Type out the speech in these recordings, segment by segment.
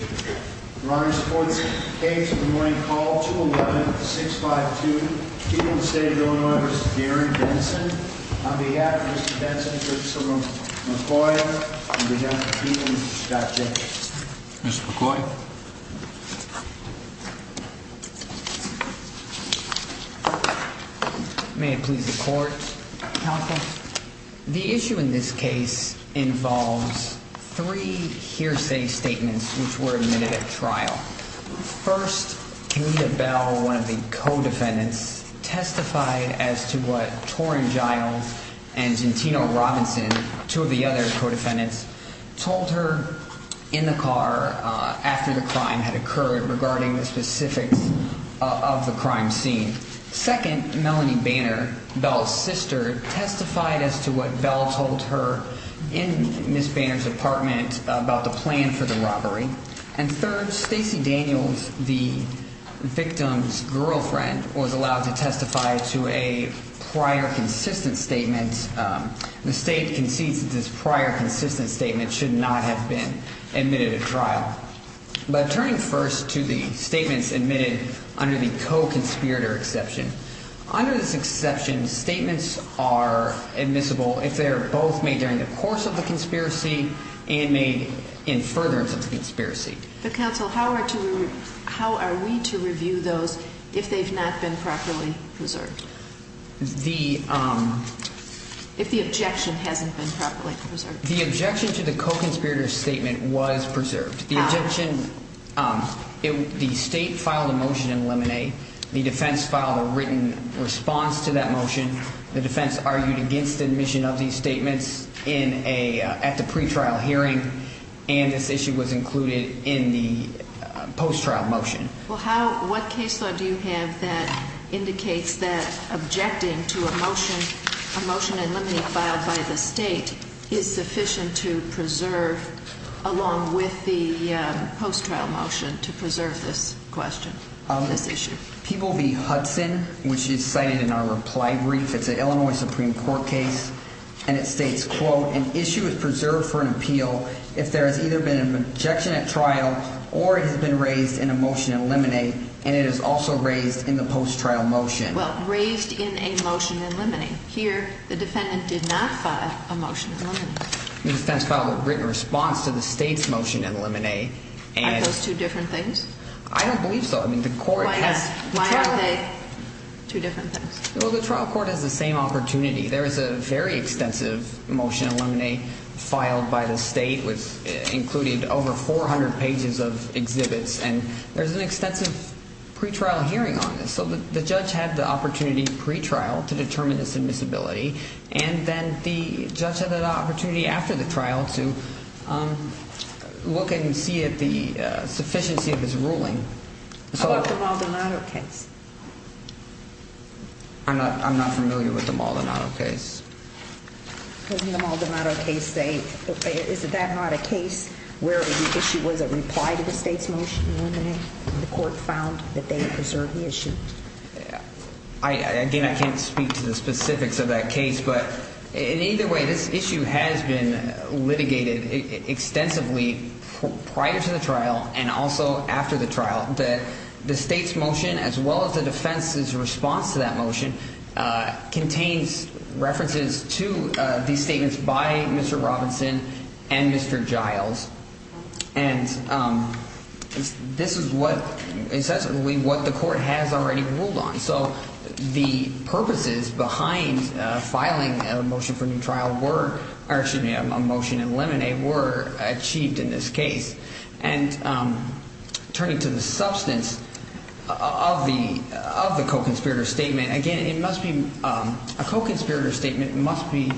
On behalf of Mr. Densen and Mr. McCoy, on behalf of the people, we've got you. Mr. McCoy. May it please the court, counsel. The issue in this case involves three hearsay statements which were admitted at trial. First, Anita Bell, one of the co-defendants, testified as to what Torrin Giles and Gentino Robinson, two of the other co-defendants, told her in the car after the crime had occurred regarding the specifics of the crime scene. Second, Melanie Banner, Bell's sister, testified as to what Bell told her in Ms. Banner's apartment about the plan for the robbery. And third, Stacey Daniels, the victim's girlfriend, was allowed to testify to a prior consistent statement. The State concedes that this prior consistent statement should not have been admitted at trial. But turning first to the statements admitted under the co-conspirator exception, under this exception, statements are admissible if they are both made during the course of the conspiracy and made in furtherance of the conspiracy. But, counsel, how are we to review those if they've not been properly preserved? If the objection hasn't been properly preserved. The objection to the co-conspirator statement was preserved. The objection, the State filed a motion in limine. The defense filed a written response to that motion. The defense argued against admission of these statements at the pretrial hearing. And this issue was included in the post-trial motion. Well, what case law do you have that indicates that objecting to a motion in limine filed by the State is sufficient to preserve, along with the post-trial motion, to preserve this question, this issue? People v. Hudson, which is cited in our reply brief. It's an Illinois Supreme Court case. And it states, quote, an issue is preserved for an appeal if there has either been an objection at trial or it has been raised in a motion in limine, and it is also raised in the post-trial motion. Well, raised in a motion in limine. Here, the defendant did not file a motion in limine. The defense filed a written response to the State's motion in limine. Are those two different things? I don't believe so. I mean, the court has. Why are they two different things? Well, the trial court has the same opportunity. There is a very extensive motion in limine filed by the State, which included over 400 pages of exhibits, and there's an extensive pretrial hearing on this. So the judge had the opportunity pretrial to determine the submissibility, and then the judge had an opportunity after the trial to look and see if the sufficiency of his ruling. How about the Maldonado case? I'm not familiar with the Maldonado case. In the Maldonado case, is that not a case where the issue was a reply to the State's motion in limine, and the court found that they had preserved the issue? Again, I can't speak to the specifics of that case, but in either way, this issue has been litigated extensively prior to the trial and also after the trial. The State's motion, as well as the defense's response to that motion, contains references to these statements by Mr. Robinson and Mr. Giles, and this is what the court has already ruled on. So the purposes behind filing a motion for new trial were, or excuse me, a motion in limine, were achieved in this case. And turning to the substance of the co-conspirator statement, again, a co-conspirator statement must be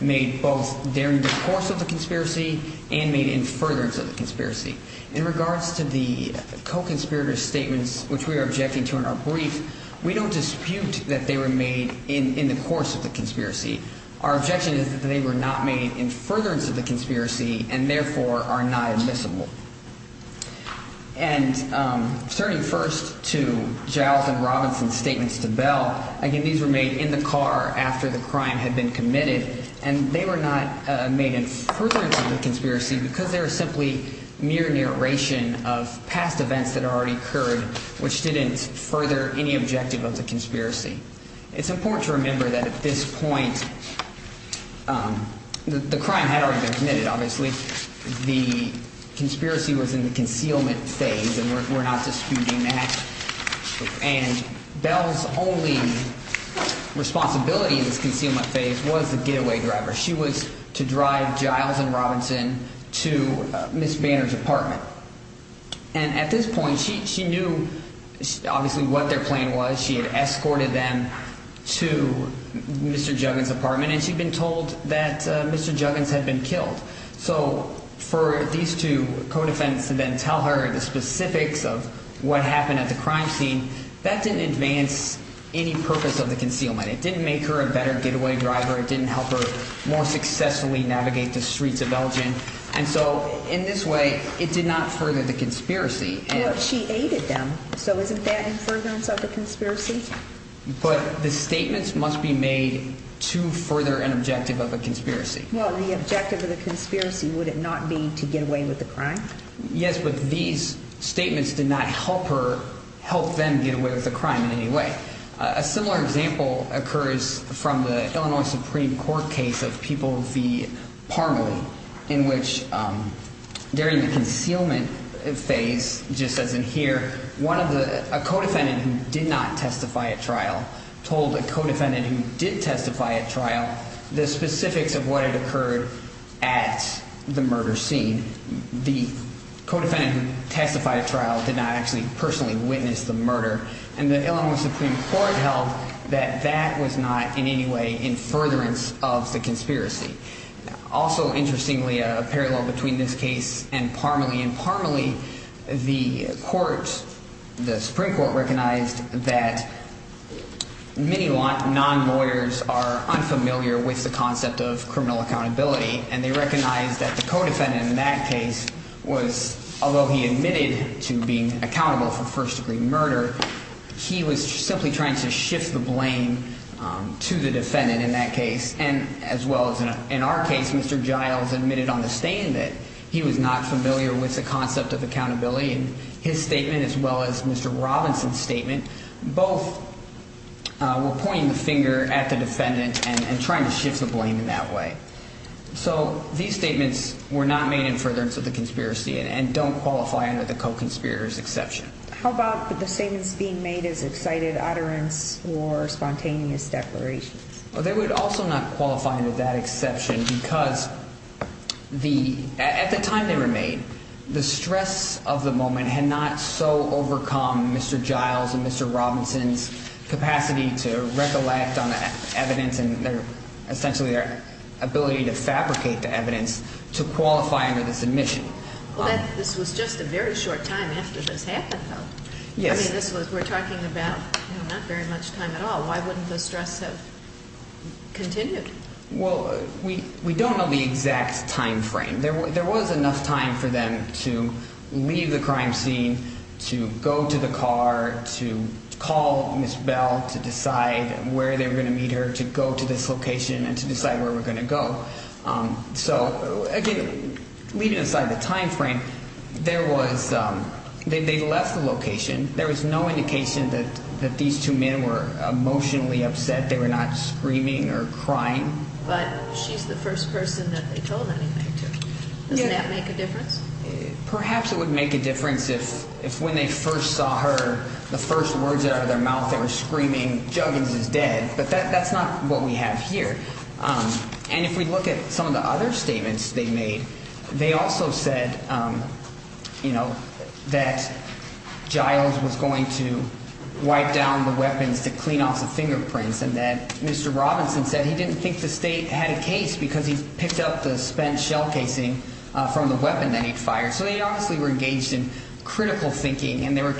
made both during the course of the conspiracy and made in furtherance of the conspiracy. In regards to the co-conspirator statements, which we are objecting to in our brief, we don't dispute that they were made in the course of the conspiracy. Our objection is that they were not made in furtherance of the conspiracy and, therefore, are not admissible. And turning first to Giles and Robinson's statements to Bell, again, these were made in the car after the crime had been committed, and they were not made in furtherance of the conspiracy because they were simply mere narration of past events that had already occurred, which didn't further any objective of the conspiracy. It's important to remember that at this point the crime had already been committed, obviously. The conspiracy was in the concealment phase, and we're not disputing that. And Bell's only responsibility in this concealment phase was the getaway driver. She was to drive Giles and Robinson to Ms. Banner's apartment. And at this point she knew, obviously, what their plan was. She had escorted them to Mr. Juggins' apartment, and she'd been told that Mr. Juggins had been killed. So for these two co-defendants to then tell her the specifics of what happened at the crime scene, that didn't advance any purpose of the concealment. It didn't make her a better getaway driver. It didn't help her more successfully navigate the streets of Belgium. And so in this way, it did not further the conspiracy. Well, she aided them, so isn't that in furtherance of the conspiracy? But the statements must be made to further an objective of a conspiracy. Well, the objective of the conspiracy, would it not be to get away with the crime? Yes, but these statements did not help her help them get away with the crime in any way. A similar example occurs from the Illinois Supreme Court case of People v. Parmalee, in which during the concealment phase, just as in here, a co-defendant who did not testify at trial told a co-defendant who did testify at trial the specifics of what had occurred at the murder scene. The co-defendant who testified at trial did not actually personally witness the murder. And the Illinois Supreme Court held that that was not in any way in furtherance of the conspiracy. Also, interestingly, a parallel between this case and Parmalee. In Parmalee, the Supreme Court recognized that many non-lawyers are unfamiliar with the concept of criminal accountability. And they recognized that the co-defendant in that case was, although he admitted to being accountable for first-degree murder, he was simply trying to shift the blame to the defendant in that case. And as well as in our case, Mr. Giles admitted on the stand that he was not familiar with the concept of accountability. And his statement, as well as Mr. Robinson's statement, both were pointing the finger at the defendant and trying to shift the blame in that way. So these statements were not made in furtherance of the conspiracy and don't qualify under the co-conspirator's exception. How about the statements being made as excited utterance or spontaneous declarations? Well, they would also not qualify under that exception because at the time they were made, the stress of the moment had not so overcome Mr. Giles and Mr. Robinson's capacity to recollect on the evidence and essentially their ability to fabricate the evidence to qualify under the submission. Well, this was just a very short time after this happened, though. Yes. We're talking about not very much time at all. Why wouldn't the stress have continued? Well, we don't know the exact time frame. There was enough time for them to leave the crime scene, to go to the car, to call Ms. Bell to decide where they were going to meet her, to go to this location and to decide where we're going to go. So, again, leaving aside the time frame, there was – they left the location. There was no indication that these two men were emotionally upset. They were not screaming or crying. But she's the first person that they told anything to. Doesn't that make a difference? Perhaps it would make a difference if when they first saw her, the first words that came out of their mouth, they were screaming, Juggins is dead. But that's not what we have here. And if we look at some of the other statements they made, they also said, you know, that Giles was going to wipe down the weapons to clean off the fingerprints and that Mr. Robinson said he didn't think the state had a case because he picked up the spent shell casing from the weapon that he'd fired. So they obviously were engaged in critical thinking, and they were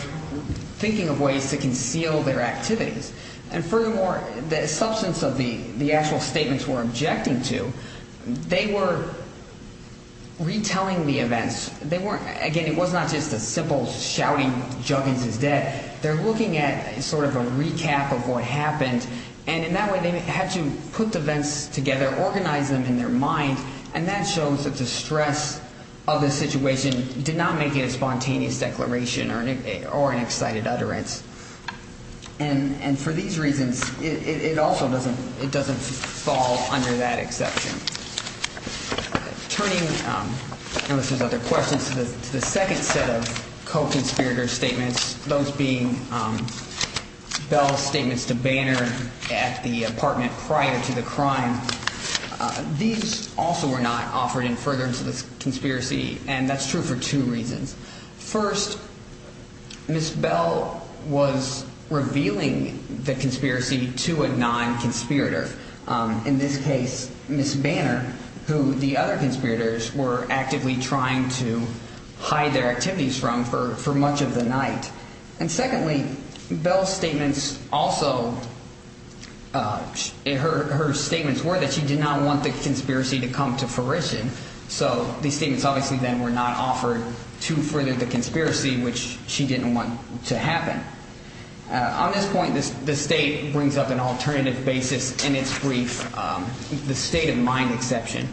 thinking of ways to conceal their activities. And furthermore, the substance of the actual statements we're objecting to, they were retelling the events. They weren't – again, it was not just a simple shouting, Juggins is dead. They're looking at sort of a recap of what happened. And in that way, they had to put the events together, organize them in their mind, and that shows that the stress of the situation did not make it a spontaneous declaration or an excited utterance. And for these reasons, it also doesn't fall under that exception. Turning, unless there's other questions, to the second set of co-conspirator statements, those being Bell's statements to Banner at the apartment prior to the crime, these also were not offered in furtherance of the conspiracy, and that's true for two reasons. First, Ms. Bell was revealing the conspiracy to a non-conspirator, in this case Ms. Banner, who the other conspirators were actively trying to hide their activities from for much of the night. And secondly, Bell's statements also – her statements were that she did not want the conspiracy to come to fruition, so these statements obviously then were not offered to further the conspiracy, which she didn't want to happen. On this point, the State brings up an alternative basis in its brief, the state of mind exception.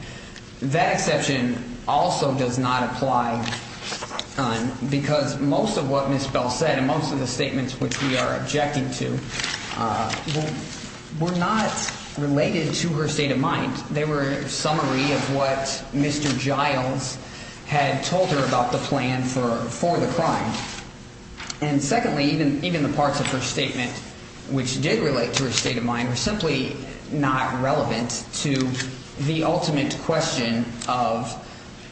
That exception also does not apply because most of what Ms. Bell said and most of the statements which we are objecting to were not related to her state of mind. They were a summary of what Mr. Giles had told her about the plan for the crime. And secondly, even the parts of her statement which did relate to her state of mind were simply not relevant to the ultimate question of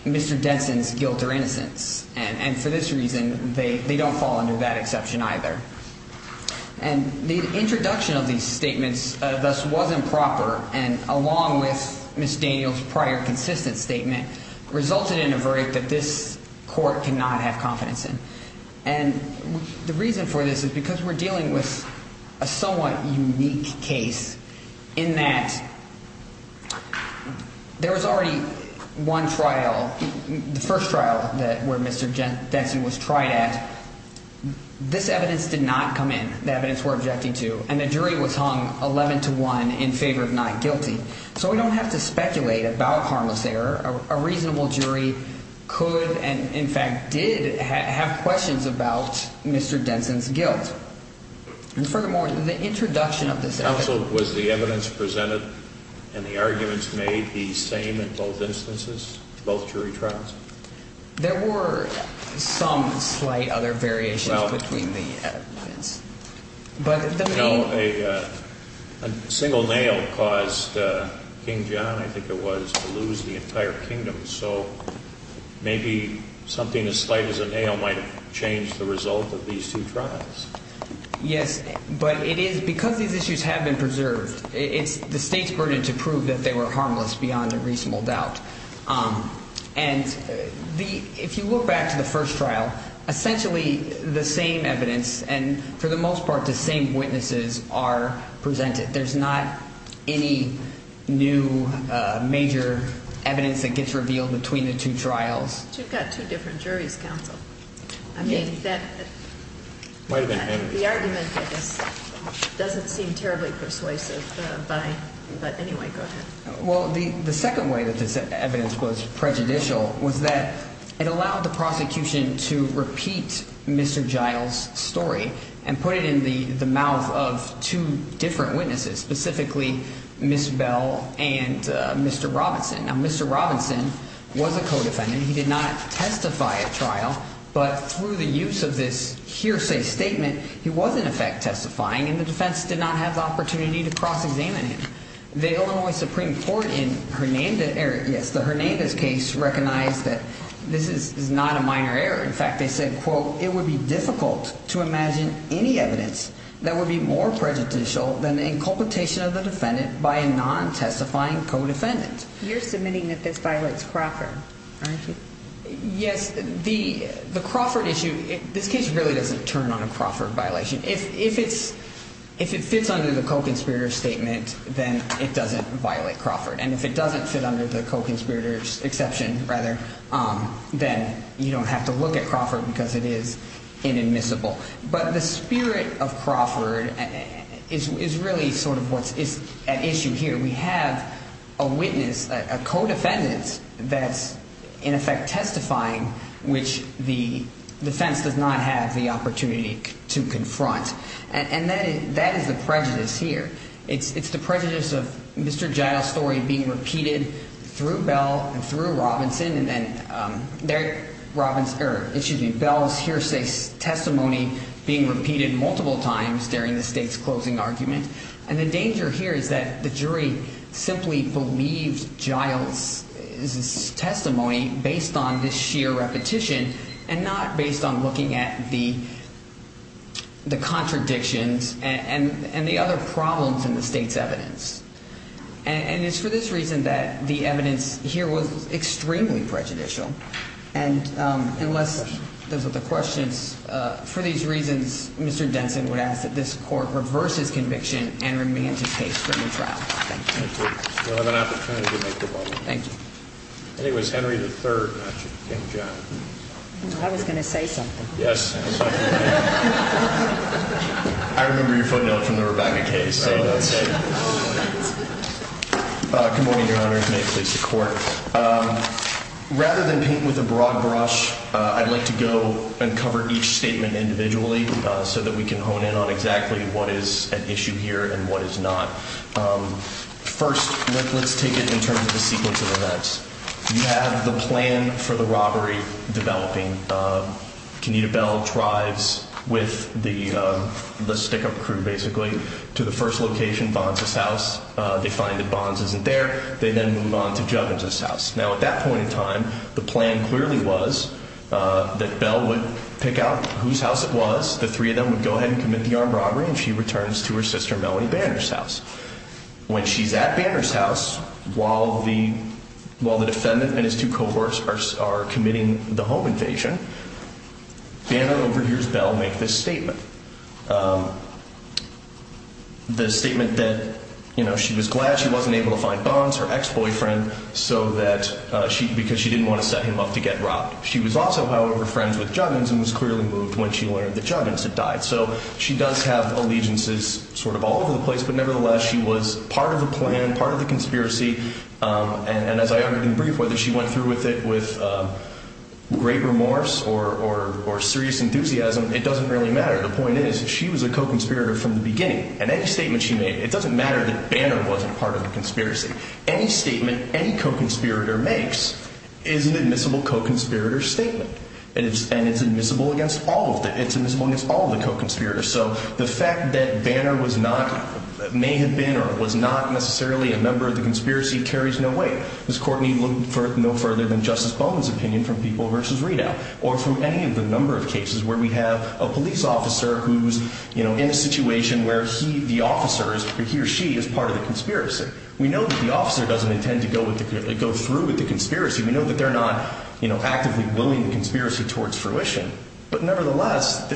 Mr. Denson's guilt or innocence. And for this reason, they don't fall under that exception either. And the introduction of these statements thus wasn't proper, and along with Ms. Daniels' prior consistent statement resulted in a verdict that this court cannot have confidence in. And the reason for this is because we're dealing with a somewhat unique case in that there was already one trial, the first trial where Mr. Denson was tried at. This evidence did not come in, the evidence we're objecting to, and the jury was hung 11 to 1 in favor of not guilty. So we don't have to speculate about harmless error. A reasonable jury could and in fact did have questions about Mr. Denson's guilt. And furthermore, the introduction of this evidence… There were some slight other variations between the evidence. A single nail caused King John, I think it was, to lose the entire kingdom. So maybe something as slight as a nail might have changed the result of these two trials. Yes, but it is because these issues have been preserved. It's the State's burden to prove that they were harmless beyond a reasonable doubt. And if you look back to the first trial, essentially the same evidence and for the most part the same witnesses are presented. There's not any new major evidence that gets revealed between the two trials. You've got two different juries, counsel. I mean, the argument doesn't seem terribly persuasive, but anyway, go ahead. Well, the second way that this evidence was prejudicial was that it allowed the prosecution to repeat Mr. Giles' story and put it in the mouth of two different witnesses, specifically Ms. Bell and Mr. Robinson. Now, Mr. Robinson was a co-defendant. He did not testify at trial, but through the use of this hearsay statement, he was in effect testifying, and the defense did not have the opportunity to cross-examine him. The Illinois Supreme Court in Hernanda's case recognized that this is not a minor error. In fact, they said, quote, it would be difficult to imagine any evidence that would be more prejudicial than the inculpation of the defendant by a non-testifying co-defendant. You're submitting that this violates Crawford, aren't you? Yes. The Crawford issue, this case really doesn't turn on a Crawford violation. If it fits under the co-conspirator's statement, then it doesn't violate Crawford, and if it doesn't fit under the co-conspirator's exception, rather, then you don't have to look at Crawford because it is inadmissible. But the spirit of Crawford is really sort of what's at issue here. We have a witness, a co-defendant that's in effect testifying, which the defense does not have the opportunity to confront. And that is the prejudice here. It's the prejudice of Mr. Giles' story being repeated through Bell and through Robinson and then there, it should be Bell's hearsay testimony being repeated multiple times during the state's closing argument. And the danger here is that the jury simply believes Giles' testimony based on this sheer repetition and not based on looking at the contradictions and the other problems in the state's evidence. And it's for this reason that the evidence here was extremely prejudicial. And unless those are the questions, for these reasons, Mr. Denson would ask that this court reverse his conviction and remand to case for the trial. Thank you. Thank you. You'll have an opportunity to make the ruling. Thank you. And it was Henry III, not King John. I was going to say something. Yes. I remember your footnote from the Rebecca case. Good morning, Your Honor. May it please the Court. Rather than paint with a broad brush, I'd like to go and cover each statement individually so that we can hone in on exactly what is at issue here and what is not. First, let's take it in terms of the sequence of events. You have the plan for the robbery developing. Kenita Bell drives with the stick-up crew, basically, to the first location, Bonds' house. They find that Bonds isn't there. They then move on to Juggins' house. Now, at that point in time, the plan clearly was that Bell would pick out whose house it was. The three of them would go ahead and commit the armed robbery, and she returns to her sister, Melanie Banner's house. When she's at Banner's house, while the defendant and his two cohorts are committing the home invasion, Banner overhears Bell make this statement. The statement that she was glad she wasn't able to find Bonds, her ex-boyfriend, because she didn't want to set him up to get robbed. She was also, however, friends with Juggins and was clearly moved when she learned that Juggins had died. So she does have allegiances sort of all over the place, but nevertheless, she was part of the plan, part of the conspiracy, and as I argued in brief, whether she went through with it with great remorse or serious enthusiasm, it doesn't really matter. The point is, she was a co-conspirator from the beginning, and any statement she made, it doesn't matter that Banner wasn't part of the conspiracy. Any statement any co-conspirator makes is an admissible co-conspirator statement, and it's admissible against all of them. It's admissible against all of the co-conspirators, so the fact that Banner may have been or was not necessarily a member of the conspiracy carries no weight. This Court need look no further than Justice Bowman's opinion from People v. Readout or from any of the number of cases where we have a police officer who's in a situation where he, the officer is, he or she is part of the conspiracy. We know that the officer doesn't intend to go through with the conspiracy. We know that they're not actively willing the conspiracy towards fruition, but nevertheless,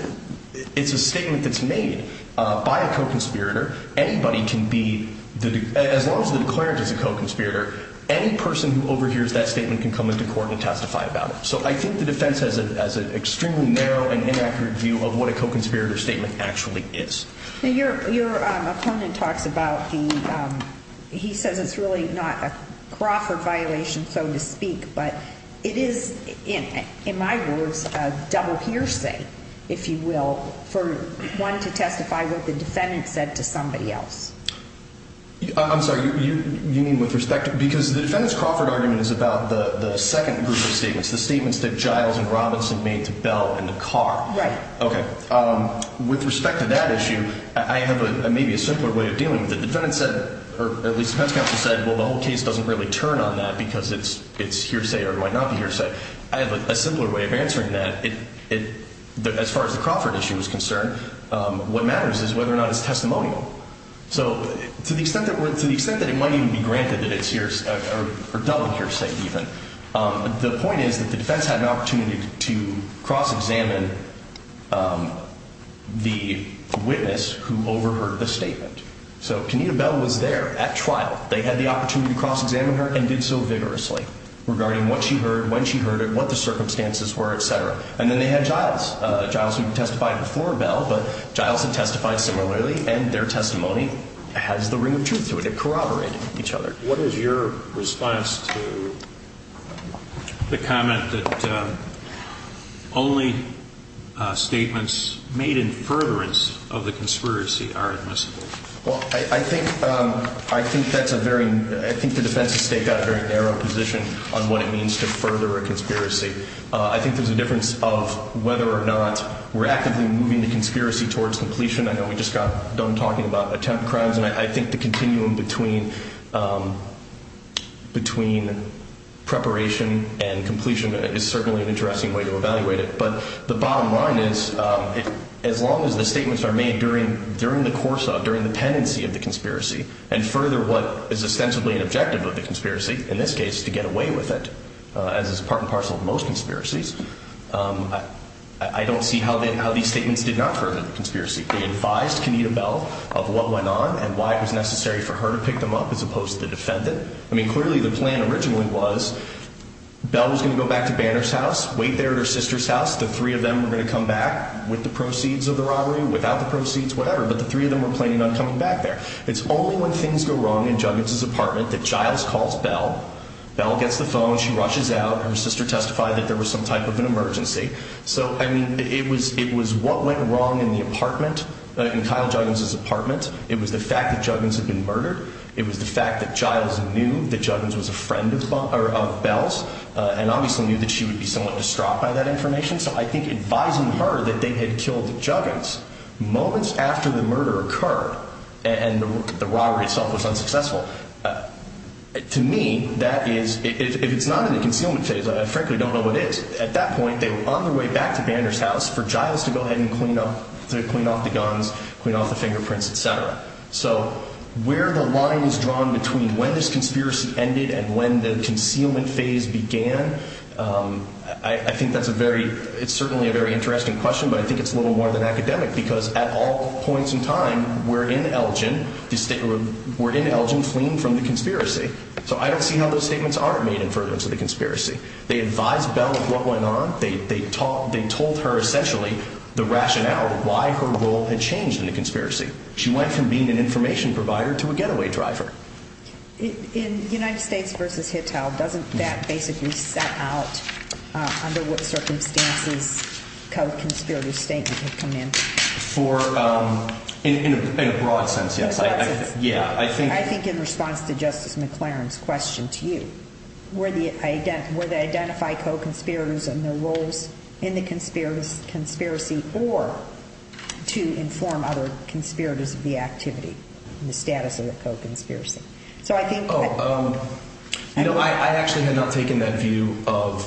it's a statement that's made by a co-conspirator. Anybody can be, as long as the declarant is a co-conspirator, any person who overhears that statement can come into court and testify about it. So I think the defense has an extremely narrow and inaccurate view of what a co-conspirator statement actually is. Your opponent talks about the, he says it's really not a Crawford violation, so to speak, but it is, in my words, a double hearsay, if you will, for one to testify what the defendant said to somebody else. I'm sorry, you mean with respect? Because the defendant's Crawford argument is about the second group of statements, the statements that Giles and Robinson made to Bell in the car. Right. Okay. With respect to that issue, I have maybe a simpler way of dealing with it. The defendant said, or at least the defense counsel said, well, the whole case doesn't really turn on that because it's hearsay or it might not be hearsay. I have a simpler way of answering that. As far as the Crawford issue is concerned, what matters is whether or not it's testimonial. So to the extent that it might even be granted that it's hearsay or double hearsay even, the point is that the defense had an opportunity to cross-examine the witness who overheard the statement. So Kenita Bell was there at trial. They had the opportunity to cross-examine her and did so vigorously regarding what she heard, when she heard it, what the circumstances were, et cetera. And then they had Giles. Giles had testified before Bell, but Giles had testified similarly, and their testimony has the ring of truth to it. It corroborated each other. What is your response to the comment that only statements made in furtherance of the conspiracy are admissible? Well, I think that's a very ñ I think the defense has staked out a very narrow position on what it means to further a conspiracy. I think there's a difference of whether or not we're actively moving the conspiracy towards completion. I know we just got done talking about attempt crimes, and I think the continuum between preparation and completion is certainly an interesting way to evaluate it. But the bottom line is, as long as the statements are made during the course of, during the pendency of the conspiracy, and further what is ostensibly an objective of the conspiracy, in this case to get away with it, as is part and parcel of most conspiracies, I don't see how these statements did not further the conspiracy. They advised Kenita Bell of what went on and why it was necessary for her to pick them up, as opposed to the defendant. I mean, clearly the plan originally was Bell was going to go back to Banner's house, wait there at her sister's house. The three of them were going to come back with the proceeds of the robbery, without the proceeds, whatever. But the three of them were planning on coming back there. It's only when things go wrong in Juggins' apartment that Giles calls Bell. Bell gets the phone. She rushes out. Her sister testified that there was some type of an emergency. So, I mean, it was what went wrong in the apartment, in Kyle Juggins' apartment. It was the fact that Juggins had been murdered. It was the fact that Giles knew that Juggins was a friend of Bell's, and obviously knew that she would be somewhat distraught by that information. So I think advising her that they had killed Juggins moments after the murder occurred, and the robbery itself was unsuccessful, to me, that is, if it's not in the concealment phase, I frankly don't know what is. At that point, they were on their way back to Banner's house for Giles to go ahead and clean up, to clean off the guns, clean off the fingerprints, et cetera. So where the line is drawn between when this conspiracy ended and when the concealment phase began, I think that's a very, it's certainly a very interesting question, but I think it's a little more than academic because at all points in time, we're in Elgin fleeing from the conspiracy. So I don't see how those statements aren't made in furtherance of the conspiracy. They advised Bell of what went on. They told her, essentially, the rationale of why her role had changed in the conspiracy. She went from being an information provider to a getaway driver. In United States v. Hittal, doesn't that basically set out under what circumstances kind of conspiracy statement had come in? In a broad sense. I don't know if that's a McLaren's question to you, where they identify co-conspirators and their roles in the conspiracy or to inform other conspirators of the activity and the status of the co-conspiracy. So I think that— Oh, you know, I actually had not taken that view of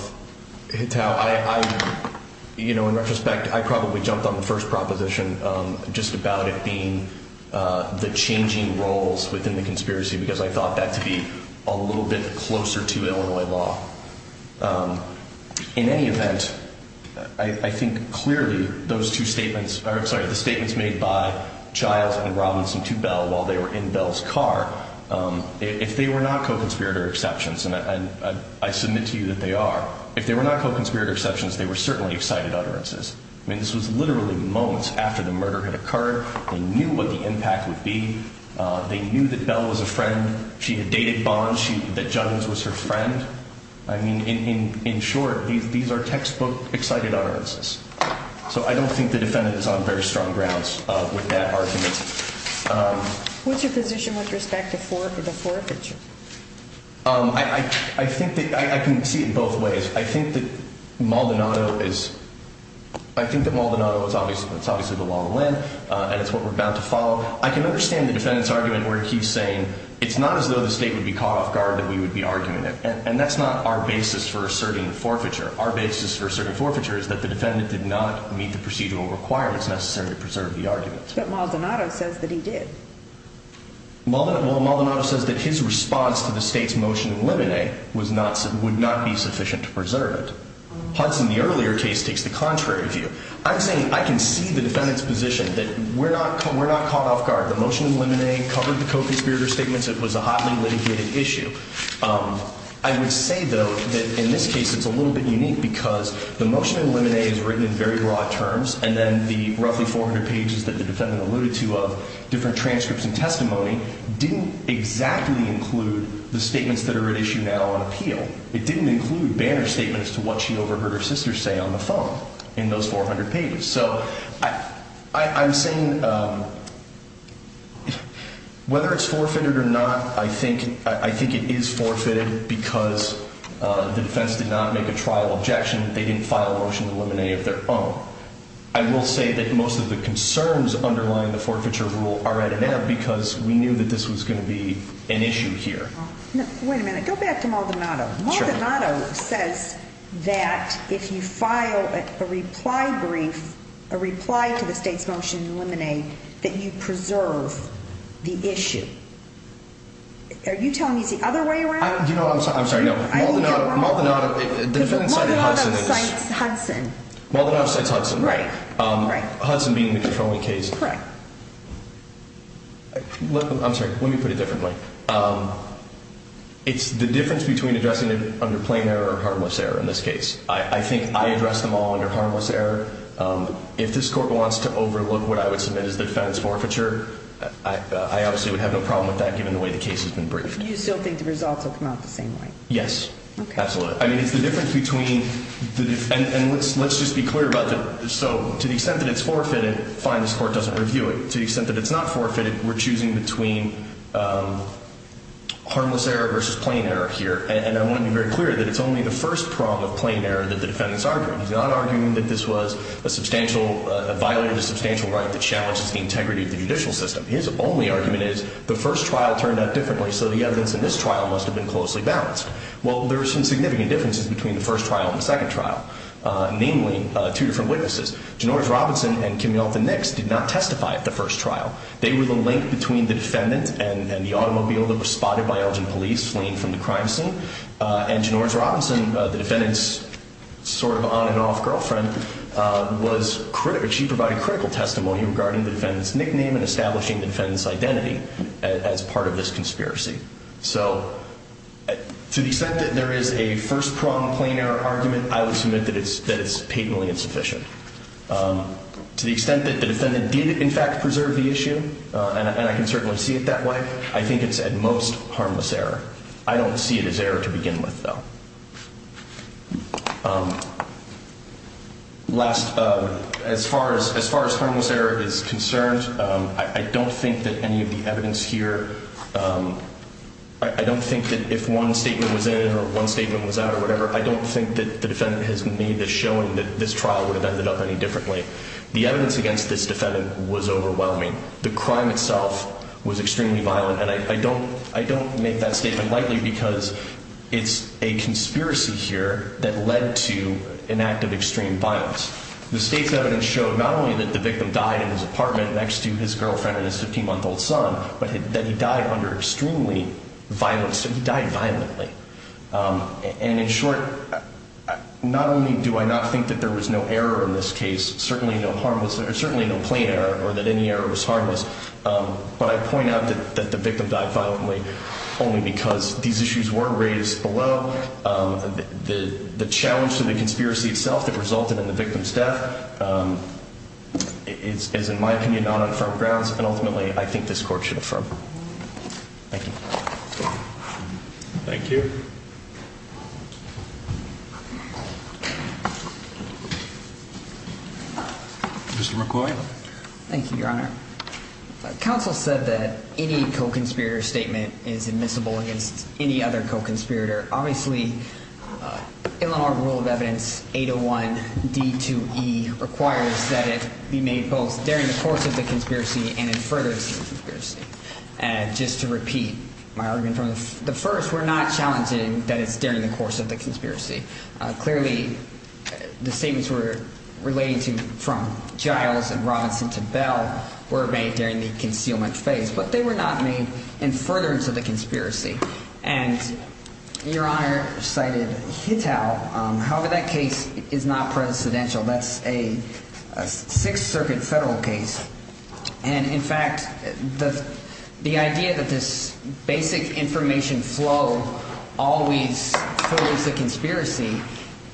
Hittal. I, you know, in retrospect, I probably jumped on the first proposition, just about it being the changing roles within the conspiracy because I thought that to be a little bit closer to Illinois law. In any event, I think clearly those two statements— sorry, the statements made by Childs and Robinson to Bell while they were in Bell's car, if they were not co-conspirator exceptions, and I submit to you that they are, if they were not co-conspirator exceptions, they were certainly excited utterances. I mean, this was literally moments after the murder had occurred. They knew what the impact would be. They knew that Bell was a friend. She had dated Bond. She—that Juggins was her friend. I mean, in short, these are textbook excited utterances. So I don't think the defendant is on very strong grounds with that argument. What's your position with respect to Forfeiture? I think that—I can see it in both ways. I think that Maldonado is—I think that Maldonado is obviously the law of the land, and it's what we're bound to follow. I can understand the defendant's argument where he's saying it's not as though the State would be caught off guard that we would be arguing it, and that's not our basis for asserting Forfeiture. Our basis for asserting Forfeiture is that the defendant did not meet the procedural requirements necessary to preserve the argument. But Maldonado says that he did. Well, Maldonado says that his response to the State's motion of limine would not be sufficient to preserve it. Hudson, in the earlier case, takes the contrary view. I'm saying I can see the defendant's position that we're not caught off guard. The motion of limine covered the Kofi Sperder statements. It was a hotly litigated issue. I would say, though, that in this case it's a little bit unique because the motion of limine is written in very broad terms, and then the roughly 400 pages that the defendant alluded to of different transcripts and testimony didn't exactly include the statements that are at issue now on appeal. It didn't include banner statements to what she overheard her sister say on the phone in those 400 pages. So I'm saying whether it's forfeited or not, I think it is forfeited because the defense did not make a trial objection. They didn't file a motion of limine of their own. I will say that most of the concerns underlying the Forfeiture rule are at an ebb because we knew that this was going to be an issue here. Wait a minute. Go back to Maldonado. Maldonado says that if you file a reply brief, a reply to the state's motion of limine, that you preserve the issue. Are you telling me it's the other way around? I'm sorry, no. Maldonado, the defendant cited Hudson. Maldonado cites Hudson. Maldonado cites Hudson, right. Hudson being the controlling case. Correct. I'm sorry. Let me put it differently. It's the difference between addressing it under plain error or harmless error in this case. I think I address them all under harmless error. If this court wants to overlook what I would submit as defense forfeiture, I obviously would have no problem with that given the way the case has been briefed. You still think the results will come out the same way? Yes, absolutely. I mean, it's the difference between the difference. And let's just be clear about that. So to the extent that it's forfeited, fine, this court doesn't review it. To the extent that it's not forfeited, we're choosing between harmless error versus plain error here, and I want to be very clear that it's only the first prong of plain error that the defendant's arguing. He's not arguing that this was a substantial, a violation of a substantial right that challenges the integrity of the judicial system. His only argument is the first trial turned out differently, so the evidence in this trial must have been closely balanced. Well, there are some significant differences between the first trial and the second trial, namely two different witnesses. Genorge Robinson and Kimmy Alton Nix did not testify at the first trial. They were the link between the defendant and the automobile that was spotted by Elgin police fleeing from the crime scene, and Genorge Robinson, the defendant's sort of on-and-off girlfriend, she provided critical testimony regarding the defendant's nickname and establishing the defendant's identity as part of this conspiracy. So to the extent that there is a first prong plain error argument, I would submit that it's patently insufficient. To the extent that the defendant did, in fact, preserve the issue, and I can certainly see it that way, I think it's at most harmless error. I don't see it as error to begin with, though. Last, as far as harmless error is concerned, I don't think that any of the evidence here, I don't think that if one statement was in or one statement was out or whatever, I don't think that the defendant has made the showing that this trial would have ended up any differently. The evidence against this defendant was overwhelming. The crime itself was extremely violent, and I don't make that statement lightly because it's a conspiracy here that led to an act of extreme violence. The state's evidence showed not only that the victim died in his apartment next to his girlfriend and his 15-month-old son, but that he died under extremely violent, so he died violently. And in short, not only do I not think that there was no error in this case, certainly no plain error or that any error was harmless, but I point out that the victim died violently only because these issues were raised below. The challenge to the conspiracy itself that resulted in the victim's death is, in my opinion, not on firm grounds, and ultimately I think this Court should affirm. Thank you. Thank you. Mr. McCoy. Thank you, Your Honor. Counsel said that any co-conspirator statement is admissible against any other co-conspirator. Obviously, Illinois rule of evidence 801D2E requires that it be made both during the course of the conspiracy and in furtherance of the conspiracy. And just to repeat my argument from the first, we're not challenging that it's during the course of the conspiracy. Clearly, the statements were relating to from Giles and Robinson to Bell were made during the concealment phase, but they were not made in furtherance of the conspiracy. And Your Honor cited Hitau. However, that case is not precedential. That's a Sixth Circuit federal case. And, in fact, the idea that this basic information flow always follows the conspiracy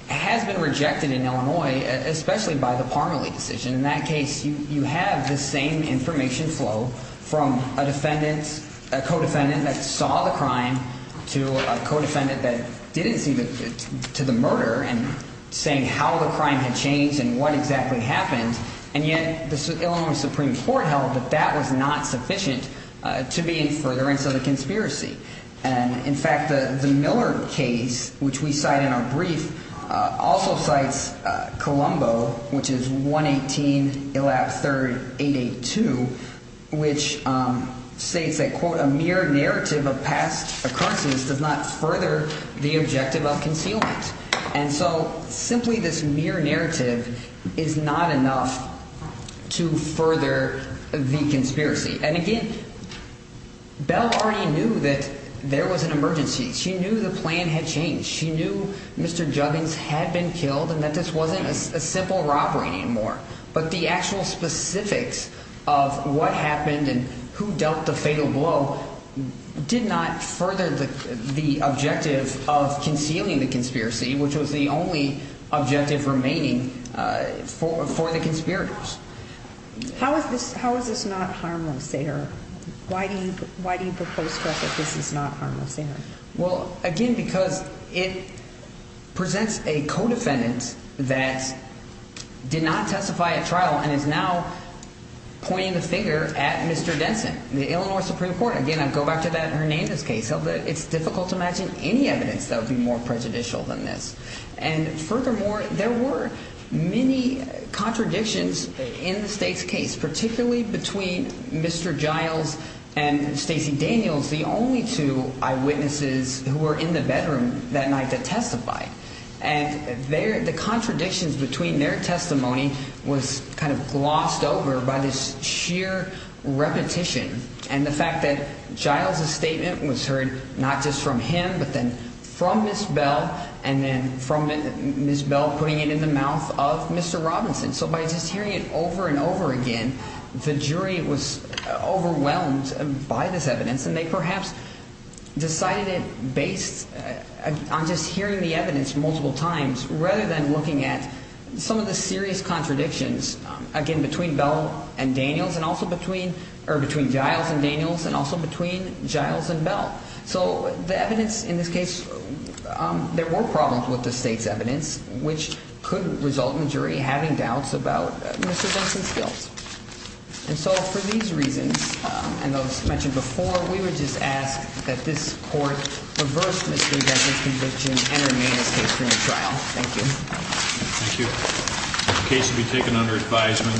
has been rejected in Illinois, especially by the Parmelee decision. In that case, you have the same information flow from a defendant, a co-defendant that saw the crime, to a co-defendant that didn't see the murder and saying how the crime had changed and what exactly happened. And yet the Illinois Supreme Court held that that was not sufficient to be in furtherance of the conspiracy. And, in fact, the Miller case, which we cite in our brief, also cites Colombo, which is 118, Elap, 3rd, 882, which states that, quote, a mere narrative of past occurrences does not further the objective of concealment. And so simply this mere narrative is not enough to further the conspiracy. And, again, Bell already knew that there was an emergency. She knew the plan had changed. She knew Mr. Juggins had been killed and that this wasn't a simple robbery anymore. But the actual specifics of what happened and who dealt the fatal blow did not further the objective of concealing the conspiracy, which was the only objective remaining for the conspirators. How is this not harmless there? Why do you propose to us that this is not harmless there? Well, again, because it presents a co-defendant that did not testify at trial and is now pointing the finger at Mr. Denson, the Illinois Supreme Court. Again, I go back to that Hernandez case. It's difficult to imagine any evidence that would be more prejudicial than this. And furthermore, there were many contradictions in the state's case, particularly between Mr. Giles and Stacey Daniels, the only two eyewitnesses who were in the bedroom that night to testify. And the contradictions between their testimony was kind of glossed over by this sheer repetition. And the fact that Giles' statement was heard not just from him but then from Ms. Bell and then from Ms. Bell putting it in the mouth of Mr. Robinson. So by just hearing it over and over again, the jury was overwhelmed by this evidence. And they perhaps decided it based on just hearing the evidence multiple times rather than looking at some of the serious contradictions, again, between Bell and Daniels and also between Giles and Daniels and also between Giles and Bell. So the evidence in this case, there were problems with the state's evidence, which could result in the jury having doubts about Mr. Denson's guilt. And so for these reasons and those mentioned before, we would just ask that this court reverse Mr. Denson's conviction and remain as case for the trial. Thank you. Thank you. The case will be taken under advisement.